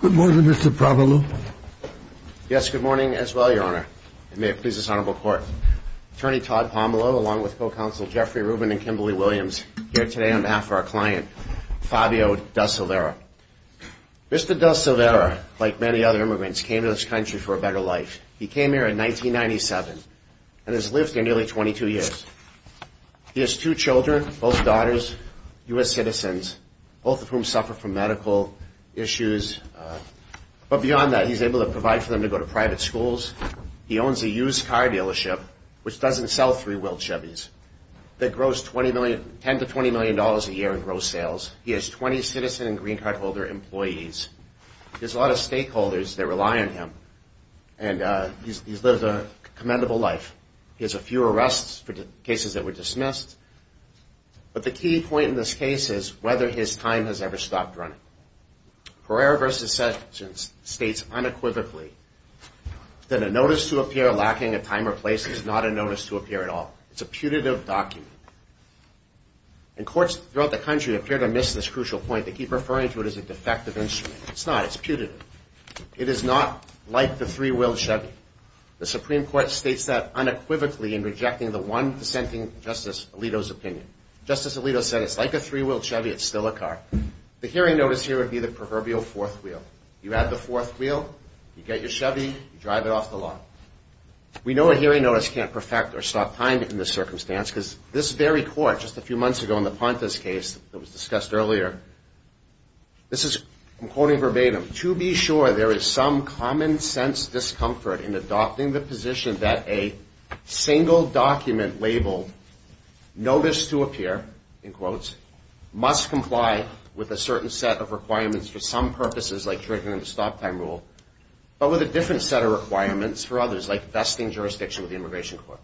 Good morning, Mr. Pomelo. Yes, good morning as well, Your Honor. It may please this Honorable Court. Attorney Todd Pomelo along with co-counsel Jeffrey Rubin and Kimberly Williams here today on behalf of our client, Fabio De Silveira. Mr. De Silveira, like many other immigrants, came to this country for a better life. He came here in 1997 and has lived here nearly 22 years. He has two children, both daughters, U.S. citizens, both of whom suffer from medical issues. But beyond that, he's able to provide for them to go to private schools. He owns a used car dealership, which doesn't sell three-wheeled Chevys, that grows $10 to $20 million a year in gross sales. He has 20 citizen and green card holder employees. There's a lot of stakeholders that rely on him. And he's lived a commendable life. He has a few arrests for cases that were dismissed. But the key point in this case is whether his time has ever stopped running. Pereira v. Sessions states unequivocally that a notice to appear lacking a time or place is not a notice to appear at all. It's a putative document. And courts throughout the country appear to miss this crucial point. They keep referring to it as a defective instrument. It's not. It's putative. It is not like the three-wheeled Chevy. The Supreme Court states that unequivocally in rejecting the one dissenting Justice Alito's opinion. Justice Alito said it's like a three-wheeled Chevy. It's still a car. The hearing notice here would be the proverbial fourth wheel. You add the fourth wheel, you get your Chevy, you drive it off the lot. We know a hearing notice can't perfect or stop time in this circumstance because this very court just a few months ago in the Pontus case that was discussed earlier, this is, I'm quoting verbatim, to be sure there is some common sense discomfort in adopting the position that a single document labeled notice to appear, in quotes, must comply with a certain set of requirements for some purposes like triggering the stop time rule, but with a different set of requirements for others like vesting jurisdiction with the Immigration Court.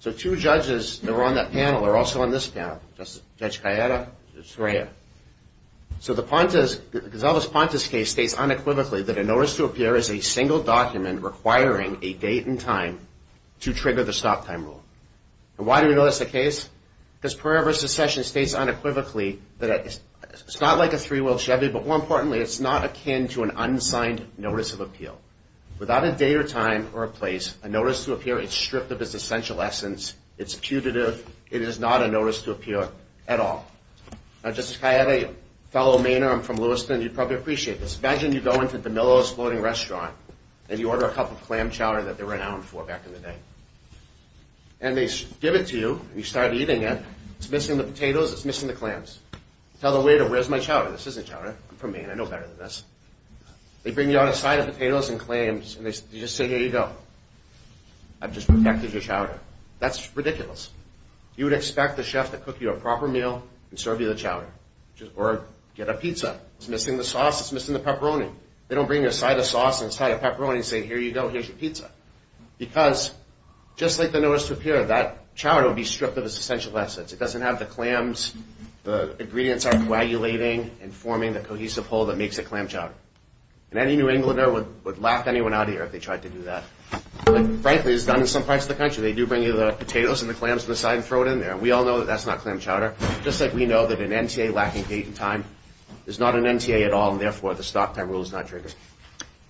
So two judges that were on that panel are also on this panel. Judge Cayeta and Judge Sreya. So the Pontus, Gisela's Pontus case states unequivocally that a notice to appear is a single document requiring a date and time to trigger the stop time rule. And why do we know that's the case? Because Pereira Secession states unequivocally that it's not like a three-wheel Chevy, but more importantly, it's not akin to an unsigned notice of appeal. Without a date or time or a place, a notice to appear, it's stripped of its essential essence. It's putative. It is not a notice to appear at all. Now, Judge Cayeta, fellow Mainer, I'm from Lewiston, you probably appreciate this. Imagine you go into DeMillo's Floating Restaurant and you order a cup of clam chowder that they were renowned for back in the day. And they give it to you and you start eating it, it's missing the potatoes, it's missing the clams. Tell the waiter, where's my chowder? This isn't chowder. I'm from Maine, I know better than this. They bring you out a side of potatoes and clams and they just say, here you go. I've just protected your chowder. That's ridiculous. You would expect the chef to cook you a proper meal and serve you the chowder or get a pizza. It's missing the sauce, it's missing the pepperoni. They don't bring you a side of sauce and a side of pepperoni and say, here you go, here's your pizza. Because just like the notice to appear, that chowder would be stripped of its essential essence. It doesn't have the clams, the ingredients aren't coagulating and forming the cohesive whole that makes a clam chowder. And any New Englander would laugh anyone out here if they tried to do that. And frankly, it's done in some parts of the country. They do bring you the potatoes and the clams to the side and throw it in there. And we all know that that's not clam chowder. Just like we know that an NTA lacking gated time is not an NTA at all and therefore the stop time rule is not triggered.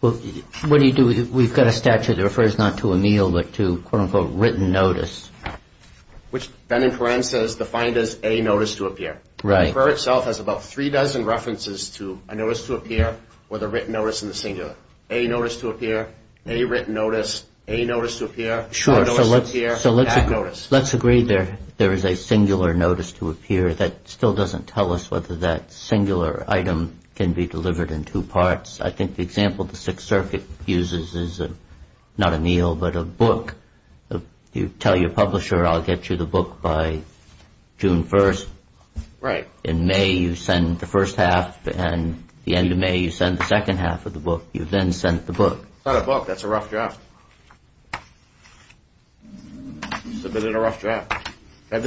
Well, what do you do? We've got a statute that refers not to a meal, but to quote unquote written notice. Which Ben and Karen says defined as a notice to appear. The refer itself has about three dozen references to a notice to appear or the written notice in the singular. A notice to appear, a written notice, a notice to appear, a notice to appear, and a notice. Let's agree there is a singular notice to appear that still doesn't tell us whether that singular item can be delivered in two parts. I think the example the Sixth Circuit uses is not a meal, but a book. You tell your publisher I'll get you the book by June 1st. In May you send the first half and the end of May you send the second half of the book. You then sent the book. It's not a book. That's a rough draft. Submitted a rough draft. I'm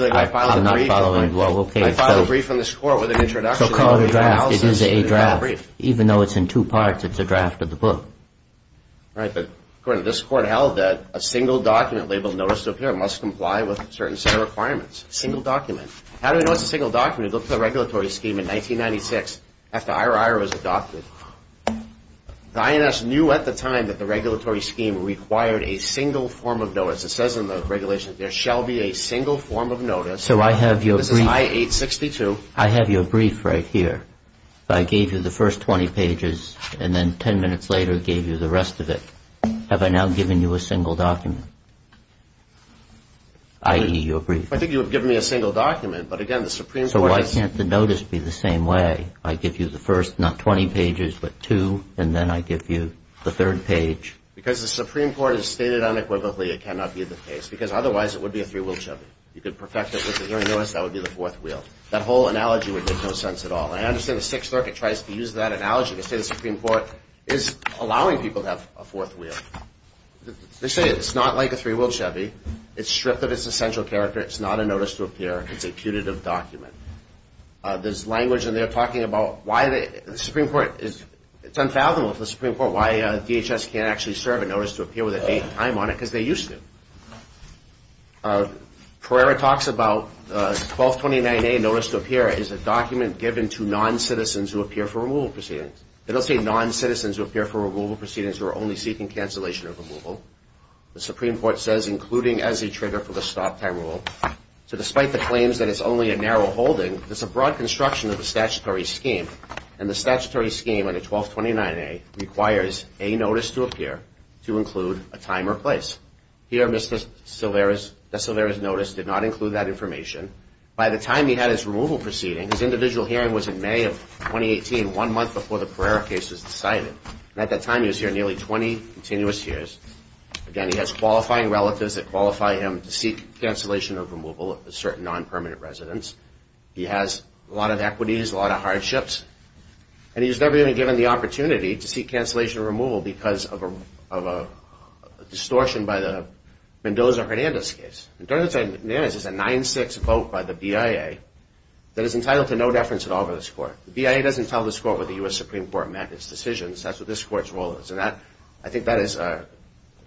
not following. I filed a brief on this court with an introduction. So call it a draft. It is a draft. Even though it's in two parts, it's a draft of the book. Right, but according to this court held that a single document labeled notice to appear must comply with certain set of requirements. A single document. How do we know it's a single document? We looked at the regulatory scheme in 1996 after IRR was adopted. The INS knew at the time that the regulatory scheme required a single form of notice. It says in the regulations that there shall be a single form of notice. So I have your brief. This is I-862. I have your brief right here. I gave you the first 20 pages and then 10 minutes later gave you the rest of it. Have I now given you a single document? I.e. your brief. I think you have given me a single document, but again the Supreme Court has So why can't the notice be the same way? I give you the first, not 20 pages, but two, and then I give you the third page. Because the Supreme Court has stated unequivocally it cannot be the case. Because otherwise it would be a three-wheel Chevy. You could perfect it with a hearing notice, that would be the fourth wheel. That whole analogy would make no sense at all. I understand the Sixth Circuit tries to use that analogy to say the Supreme Court is allowing people to have a fourth wheel. They say it's not like a three-wheel Chevy. It's stripped of its essential character. It's not a notice to appear. It's a putative document. There's language in there talking about why the Supreme Court is It's unfathomable for the Supreme Court why DHS can't actually serve a notice to appear with a date and time on it, because they used to. Pereira talks about 1229A notice to appear is a document given to non-citizens who appear for removal proceedings. It'll say non-citizens who appear for removal proceedings who are only seeking cancellation of removal. The Supreme Court says including as a trigger for the stop time rule. So despite the claims that it's only a narrow holding, it's a broad construction of the statutory scheme. And the statutory scheme under 1229A requires a notice to appear to include a time or place. Here, Mr. DeSilvera's notice did not include that information. By the time he had his removal proceeding, his individual hearing was in May of 2018, one month before the Pereira case was decided. At that time, he was here nearly 20 continuous years. Again, he has qualifying relatives that qualify him to seek cancellation of removal of certain non-permanent residents. He has a lot of equities, a lot of hardships. And he was never even given the opportunity to seek cancellation of removal because of a distortion by the Mendoza-Hernandez case. Mendoza-Hernandez is a 9-6 vote by the BIA that is entitled to no deference at all for this court. The BIA doesn't tell this court what the U.S. Supreme Court meant in its decisions. That's what this court's role is. And I think that is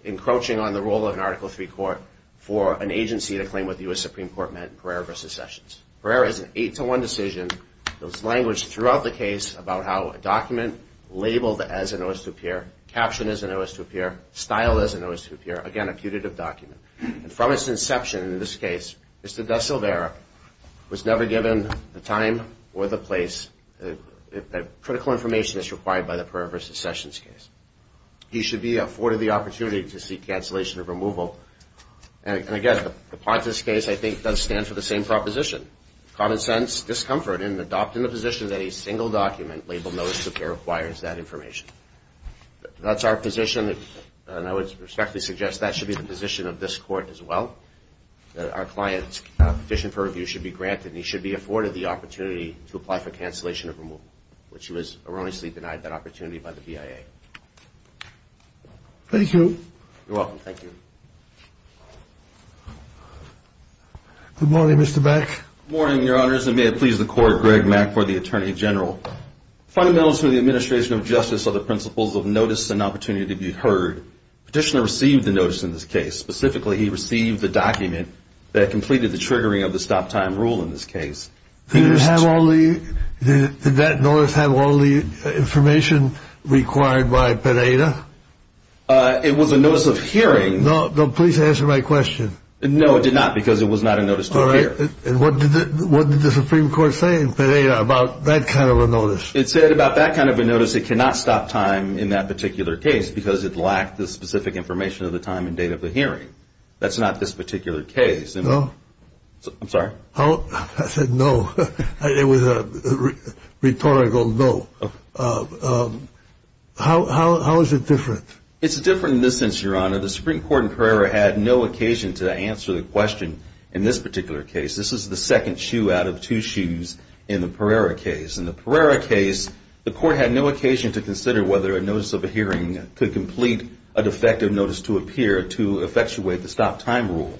encroaching on the role of an Article III court for an agency to claim what the U.S. Supreme Court meant in Pereira v. Sessions. Pereira is an 8-1 decision. There was language throughout the case about how a document labeled as an O.S. 2.0 peer, captioned as an O.S. 2.0 peer, styled as an O.S. 2.0 peer, again, a putative document. And from its inception, in this case, Mr. DeSilvera was never given the time or the place, critical information as required by the Pereira v. Sessions case. He should be afforded the opportunity to seek cancellation of removal. And again, the Pontus case, I think, does stand for the same proposition. Common sense, discomfort, and adopting the position that a single document labeled O.S. 2.0 peer acquires that information. That's our position, and I would respectfully suggest that should be the position of this court as well, that our client's petition for review should be granted and he should be afforded the opportunity to apply for cancellation of removal, which he was erroneously denied that opportunity by the BIA. Thank you. You're welcome. Thank you. Good morning, Mr. Beck. Good morning, Your Honors, and may it please the Court, Greg Mack for the Attorney General. Fundamentals for the administration of justice are the principles of notice and opportunity to be heard. Petitioner received the notice in this case. Specifically, he received the document that completed the triggering of the stop-time rule in this case. Did that notice have all the information required by Pereira? It was a notice of hearing. No, please answer my question. No, it did not, because it was not a notice to appear. All right. And what did the Supreme Court say in Pereira about that kind of a notice? It said about that kind of a notice it cannot stop time in that particular case because it lacked the specific information of the time and date of the hearing. That's not this particular case. No? I'm sorry? I said no. It was a rhetorical no. How is it different? It's different in this sense, Your Honor. The Supreme Court in Pereira had no occasion to answer the question in this particular case. This is the second shoe out of two shoes in the Pereira case. In the Pereira case, the Court had no occasion to consider whether a notice of hearing could complete a defective notice to appear to effectuate the stop-time rule.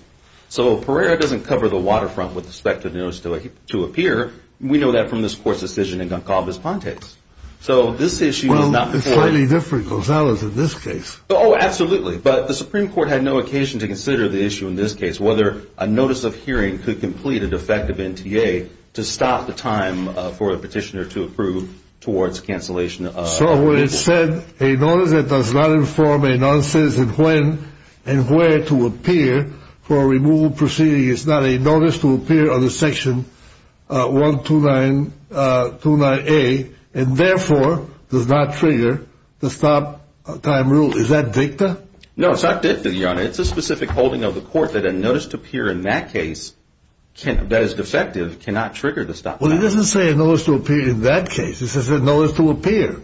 So Pereira doesn't cover the waterfront with the defective notice to appear. We know that from this Court's decision in Goncalves-Pontes. So this issue is not... Well, it's slightly different, Gonzalez, in this case. Oh, absolutely. But the Supreme Court had no occasion to consider the issue in this case, whether a notice of hearing could complete a defective NTA to stop the time for the petitioner to approve towards cancellation of... So what it said, a notice that does not inform a non-citizen when and where to appear for a removal proceeding is not a notice to appear under Section 129A, and therefore does not trigger the stop-time rule. Is that dicta? No, it's not dicta, Your Honor. It's a specific holding of the Court that a notice to appear in that case that is defective cannot trigger the stop-time rule. Well, it doesn't say a notice to appear in that case. It says a notice to appear.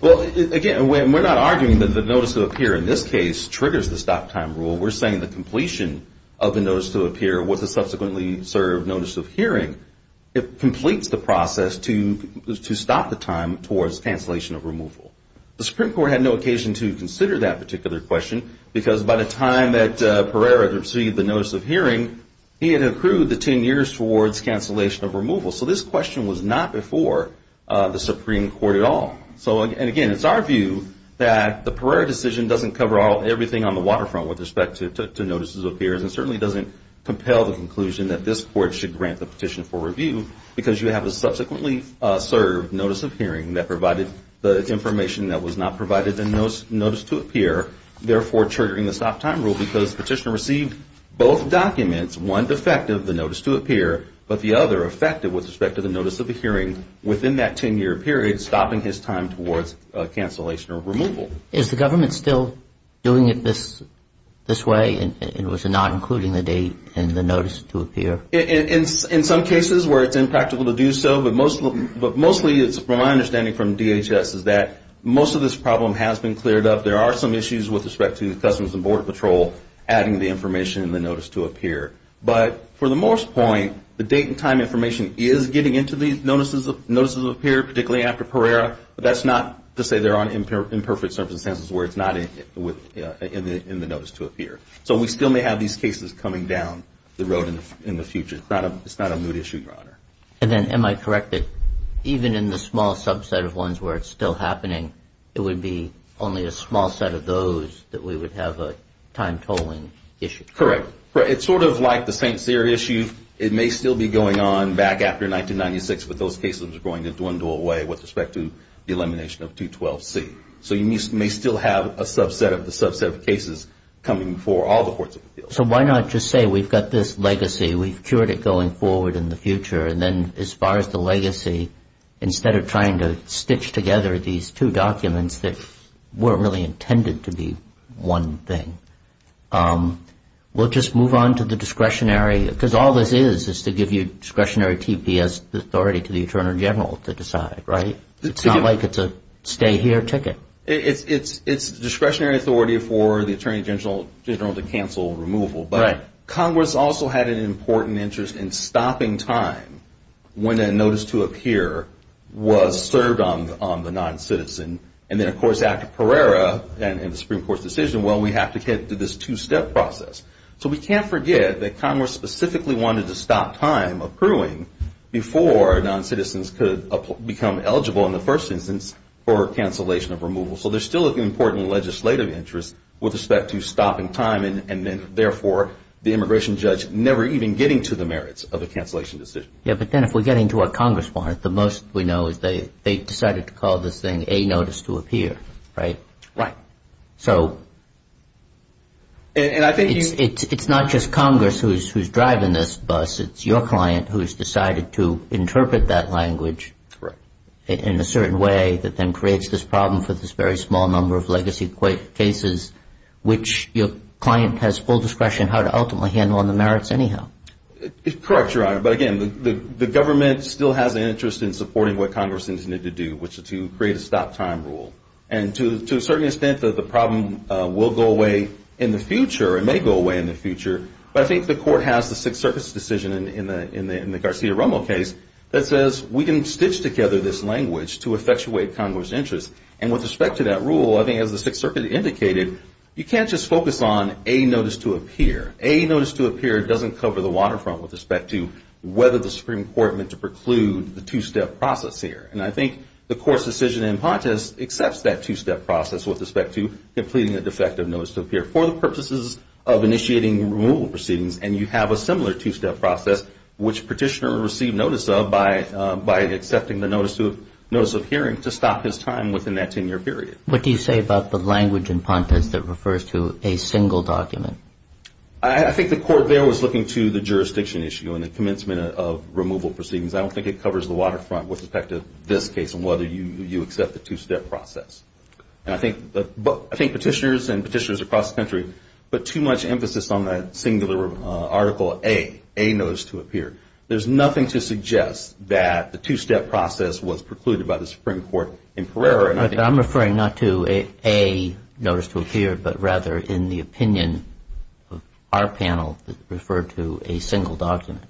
Well, again, we're not arguing that the notice to appear in this case triggers the stop-time rule. We're saying the completion of a notice to appear was a subsequently served notice of hearing completes the process to stop the time towards cancellation of removal. The Supreme Court had no occasion to consider that particular question because by the time that Pereira received the notice of hearing, he had accrued the 10 years towards cancellation of removal. So this question was not before the Supreme Court at all. And again, it's our view that the Pereira decision doesn't cover everything on the waterfront with respect to notices of appearance and certainly doesn't compel the conclusion that this Court should grant the petition for review because you have a subsequently served notice of hearing that provided the information that was not provided in the notice to appear, therefore triggering the stop-time rule because the petitioner received both documents, one defective, the notice to appear, but the other effective with respect to the notice of hearing within that 10-year period, stopping his time towards cancellation or removal. Is the government still doing it this way and was it not including the date in the notice to appear? In some cases where it's impractical to do so, but mostly it's my understanding from DHS is that most of this problem has been cleared up. There are some issues with respect to Customs and Border Patrol adding the information in the notice to appear. But for the most point, the date and time information is getting into the notices of appear, particularly after Pereira, but that's not to say there aren't imperfect circumstances where it's not in the notice to appear. So we still may have these cases coming down the road in the future. It's not a moot issue, Your Honor. And then am I correct that even in the small subset of ones where it's still happening, it would be only a small set of those that we would have a time tolling issue? Correct. It's sort of like the St. Cyr issue. It may still be going on back after 1996, but those cases are going to dwindle away with respect to the elimination of 212C. So you may still have a subset of the subset of cases coming before all the courts of appeals. So why not just say we've got this legacy, we've cured it going forward in the future, and then as far as the legacy, instead of trying to stitch together these two documents that weren't really intended to be one thing, we'll just move on to the discretionary, because all this is is to give you discretionary TPS authority to the Attorney General to decide, right? It's not like it's a stay-here ticket. It's discretionary authority for the Attorney General to cancel removal. But Congress also had an important interest in stopping time when a notice to appear was served on the noncitizen. And then, of course, Act of Pereira and the Supreme Court's decision, well, we have to get to this two-step process. So we can't forget that Congress specifically wanted to stop time accruing before noncitizens could become eligible in the first instance for cancellation of removal. So there's still an important legislative interest with respect to stopping time and then, therefore, the immigration judge never even getting to the merits of a cancellation decision. Yeah, but then if we're getting to what Congress wanted, the most we know is they decided to call this thing a notice to appear, right? Right. So... And I think... It's not just Congress who's driving this bus. It's your client who has decided to interpret that language in a certain way that then creates this problem for this very small number of legacy cases which your client has full discretion how to ultimately handle on the merits anyhow. Correct, Your Honor, but again, the government still has an interest in supporting what Congress needs to do which is to create a stop time rule. And to a certain extent, the problem will go away in the future or may go away in the future, but I think the court has the Sixth Circuit's decision in the Garcia-Romo case that says we can stitch together this language to effectuate Congress' interest and with respect to that rule, I think as the Sixth Circuit indicated, you can't just focus on a notice to appear. A notice to appear doesn't cover the waterfront with respect to whether the Supreme Court meant to preclude the two-step process here. And I think the court's decision in Pontus accepts that two-step process with respect to completing a defective notice to appear for the purposes of initiating removal proceedings and you have a similar two-step process which petitioner will receive notice of by accepting the notice of hearing to stop his time within that 10-year period. What do you say about the language in Pontus that refers to a single document? I think the court there was looking to the jurisdiction issue and the commencement of removal proceedings. I don't think it covers the waterfront with respect to this case and whether you accept the two-step process. And I think petitioners and petitioners across the country put too much emphasis on that singular article A, A notice to appear. There's nothing to suggest that the two-step process was precluded by the Supreme Court in Pereira. I'm referring not to A notice to appear but rather in the opinion of our panel that referred to a single document.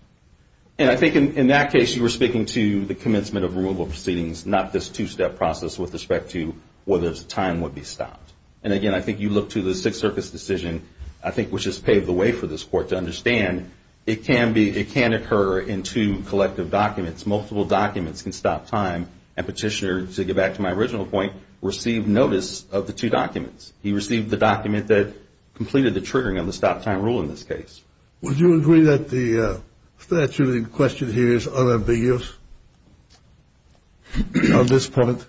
And I think in that case you were speaking to the commencement of removal proceedings, not this two-step process with respect to whether time would be stopped. And again, I think you look to the Sixth Circus decision I think which has paved the way for this court to understand it can occur in two collective documents. Multiple documents can stop time and petitioners, to get back to my original point, received notice of the two documents. He received the document that completed the triggering of the stop-time rule in this case. Would you agree that the statute in question here is unambiguous on this point?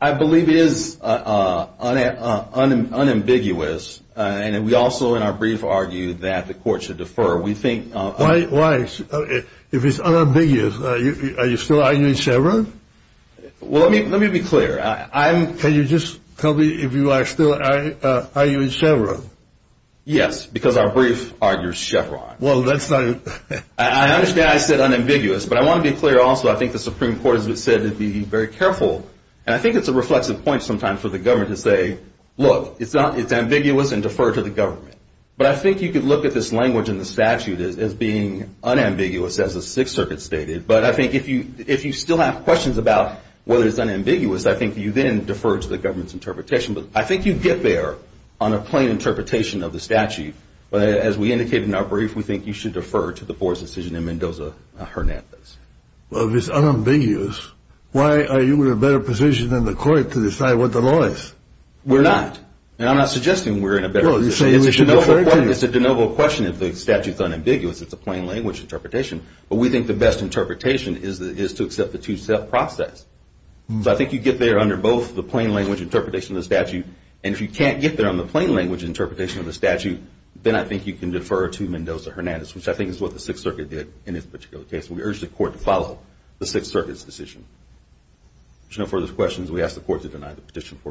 I believe it is unambiguous and we also in our brief argued that the court should defer. Why? If it's unambiguous, are you still arguing Chevron? Well, let me be clear. Can you just tell me if you are still arguing Chevron? Yes, because our brief argues Chevron. I understand I said unambiguous but I want to be clear also, I think the Supreme Court has said to be very careful and I think it's a reflexive point sometimes for the government to say, look, it's ambiguous and defer to the government. But I think you could look at this language in the statute as being unambiguous as the Sixth Circuit stated, but I think if you still have questions about whether it's unambiguous, I think you then defer to the government's interpretation. I think you get there on a plain interpretation of the statute, but as we indicated in our brief, we think you should defer to the board's decision in Mendoza-Hernandez. Well, if it's unambiguous, why are you in a better position than the court to decide what the law is? We're not. And I'm not suggesting we're in a better position. It's a de novo question if the statute's unambiguous it's a plain language interpretation but we think the best interpretation is to accept the two-step process. So I think you get there under both the plain language interpretation of the statute and if you can't get there on the plain language interpretation of the statute, then I think you can defer to Mendoza-Hernandez, which I think is what the Sixth Circuit did in this particular case. We urge the court to follow the Sixth Circuit's decision. If there's no further questions, we ask the court to deny the petition for review. Thank you.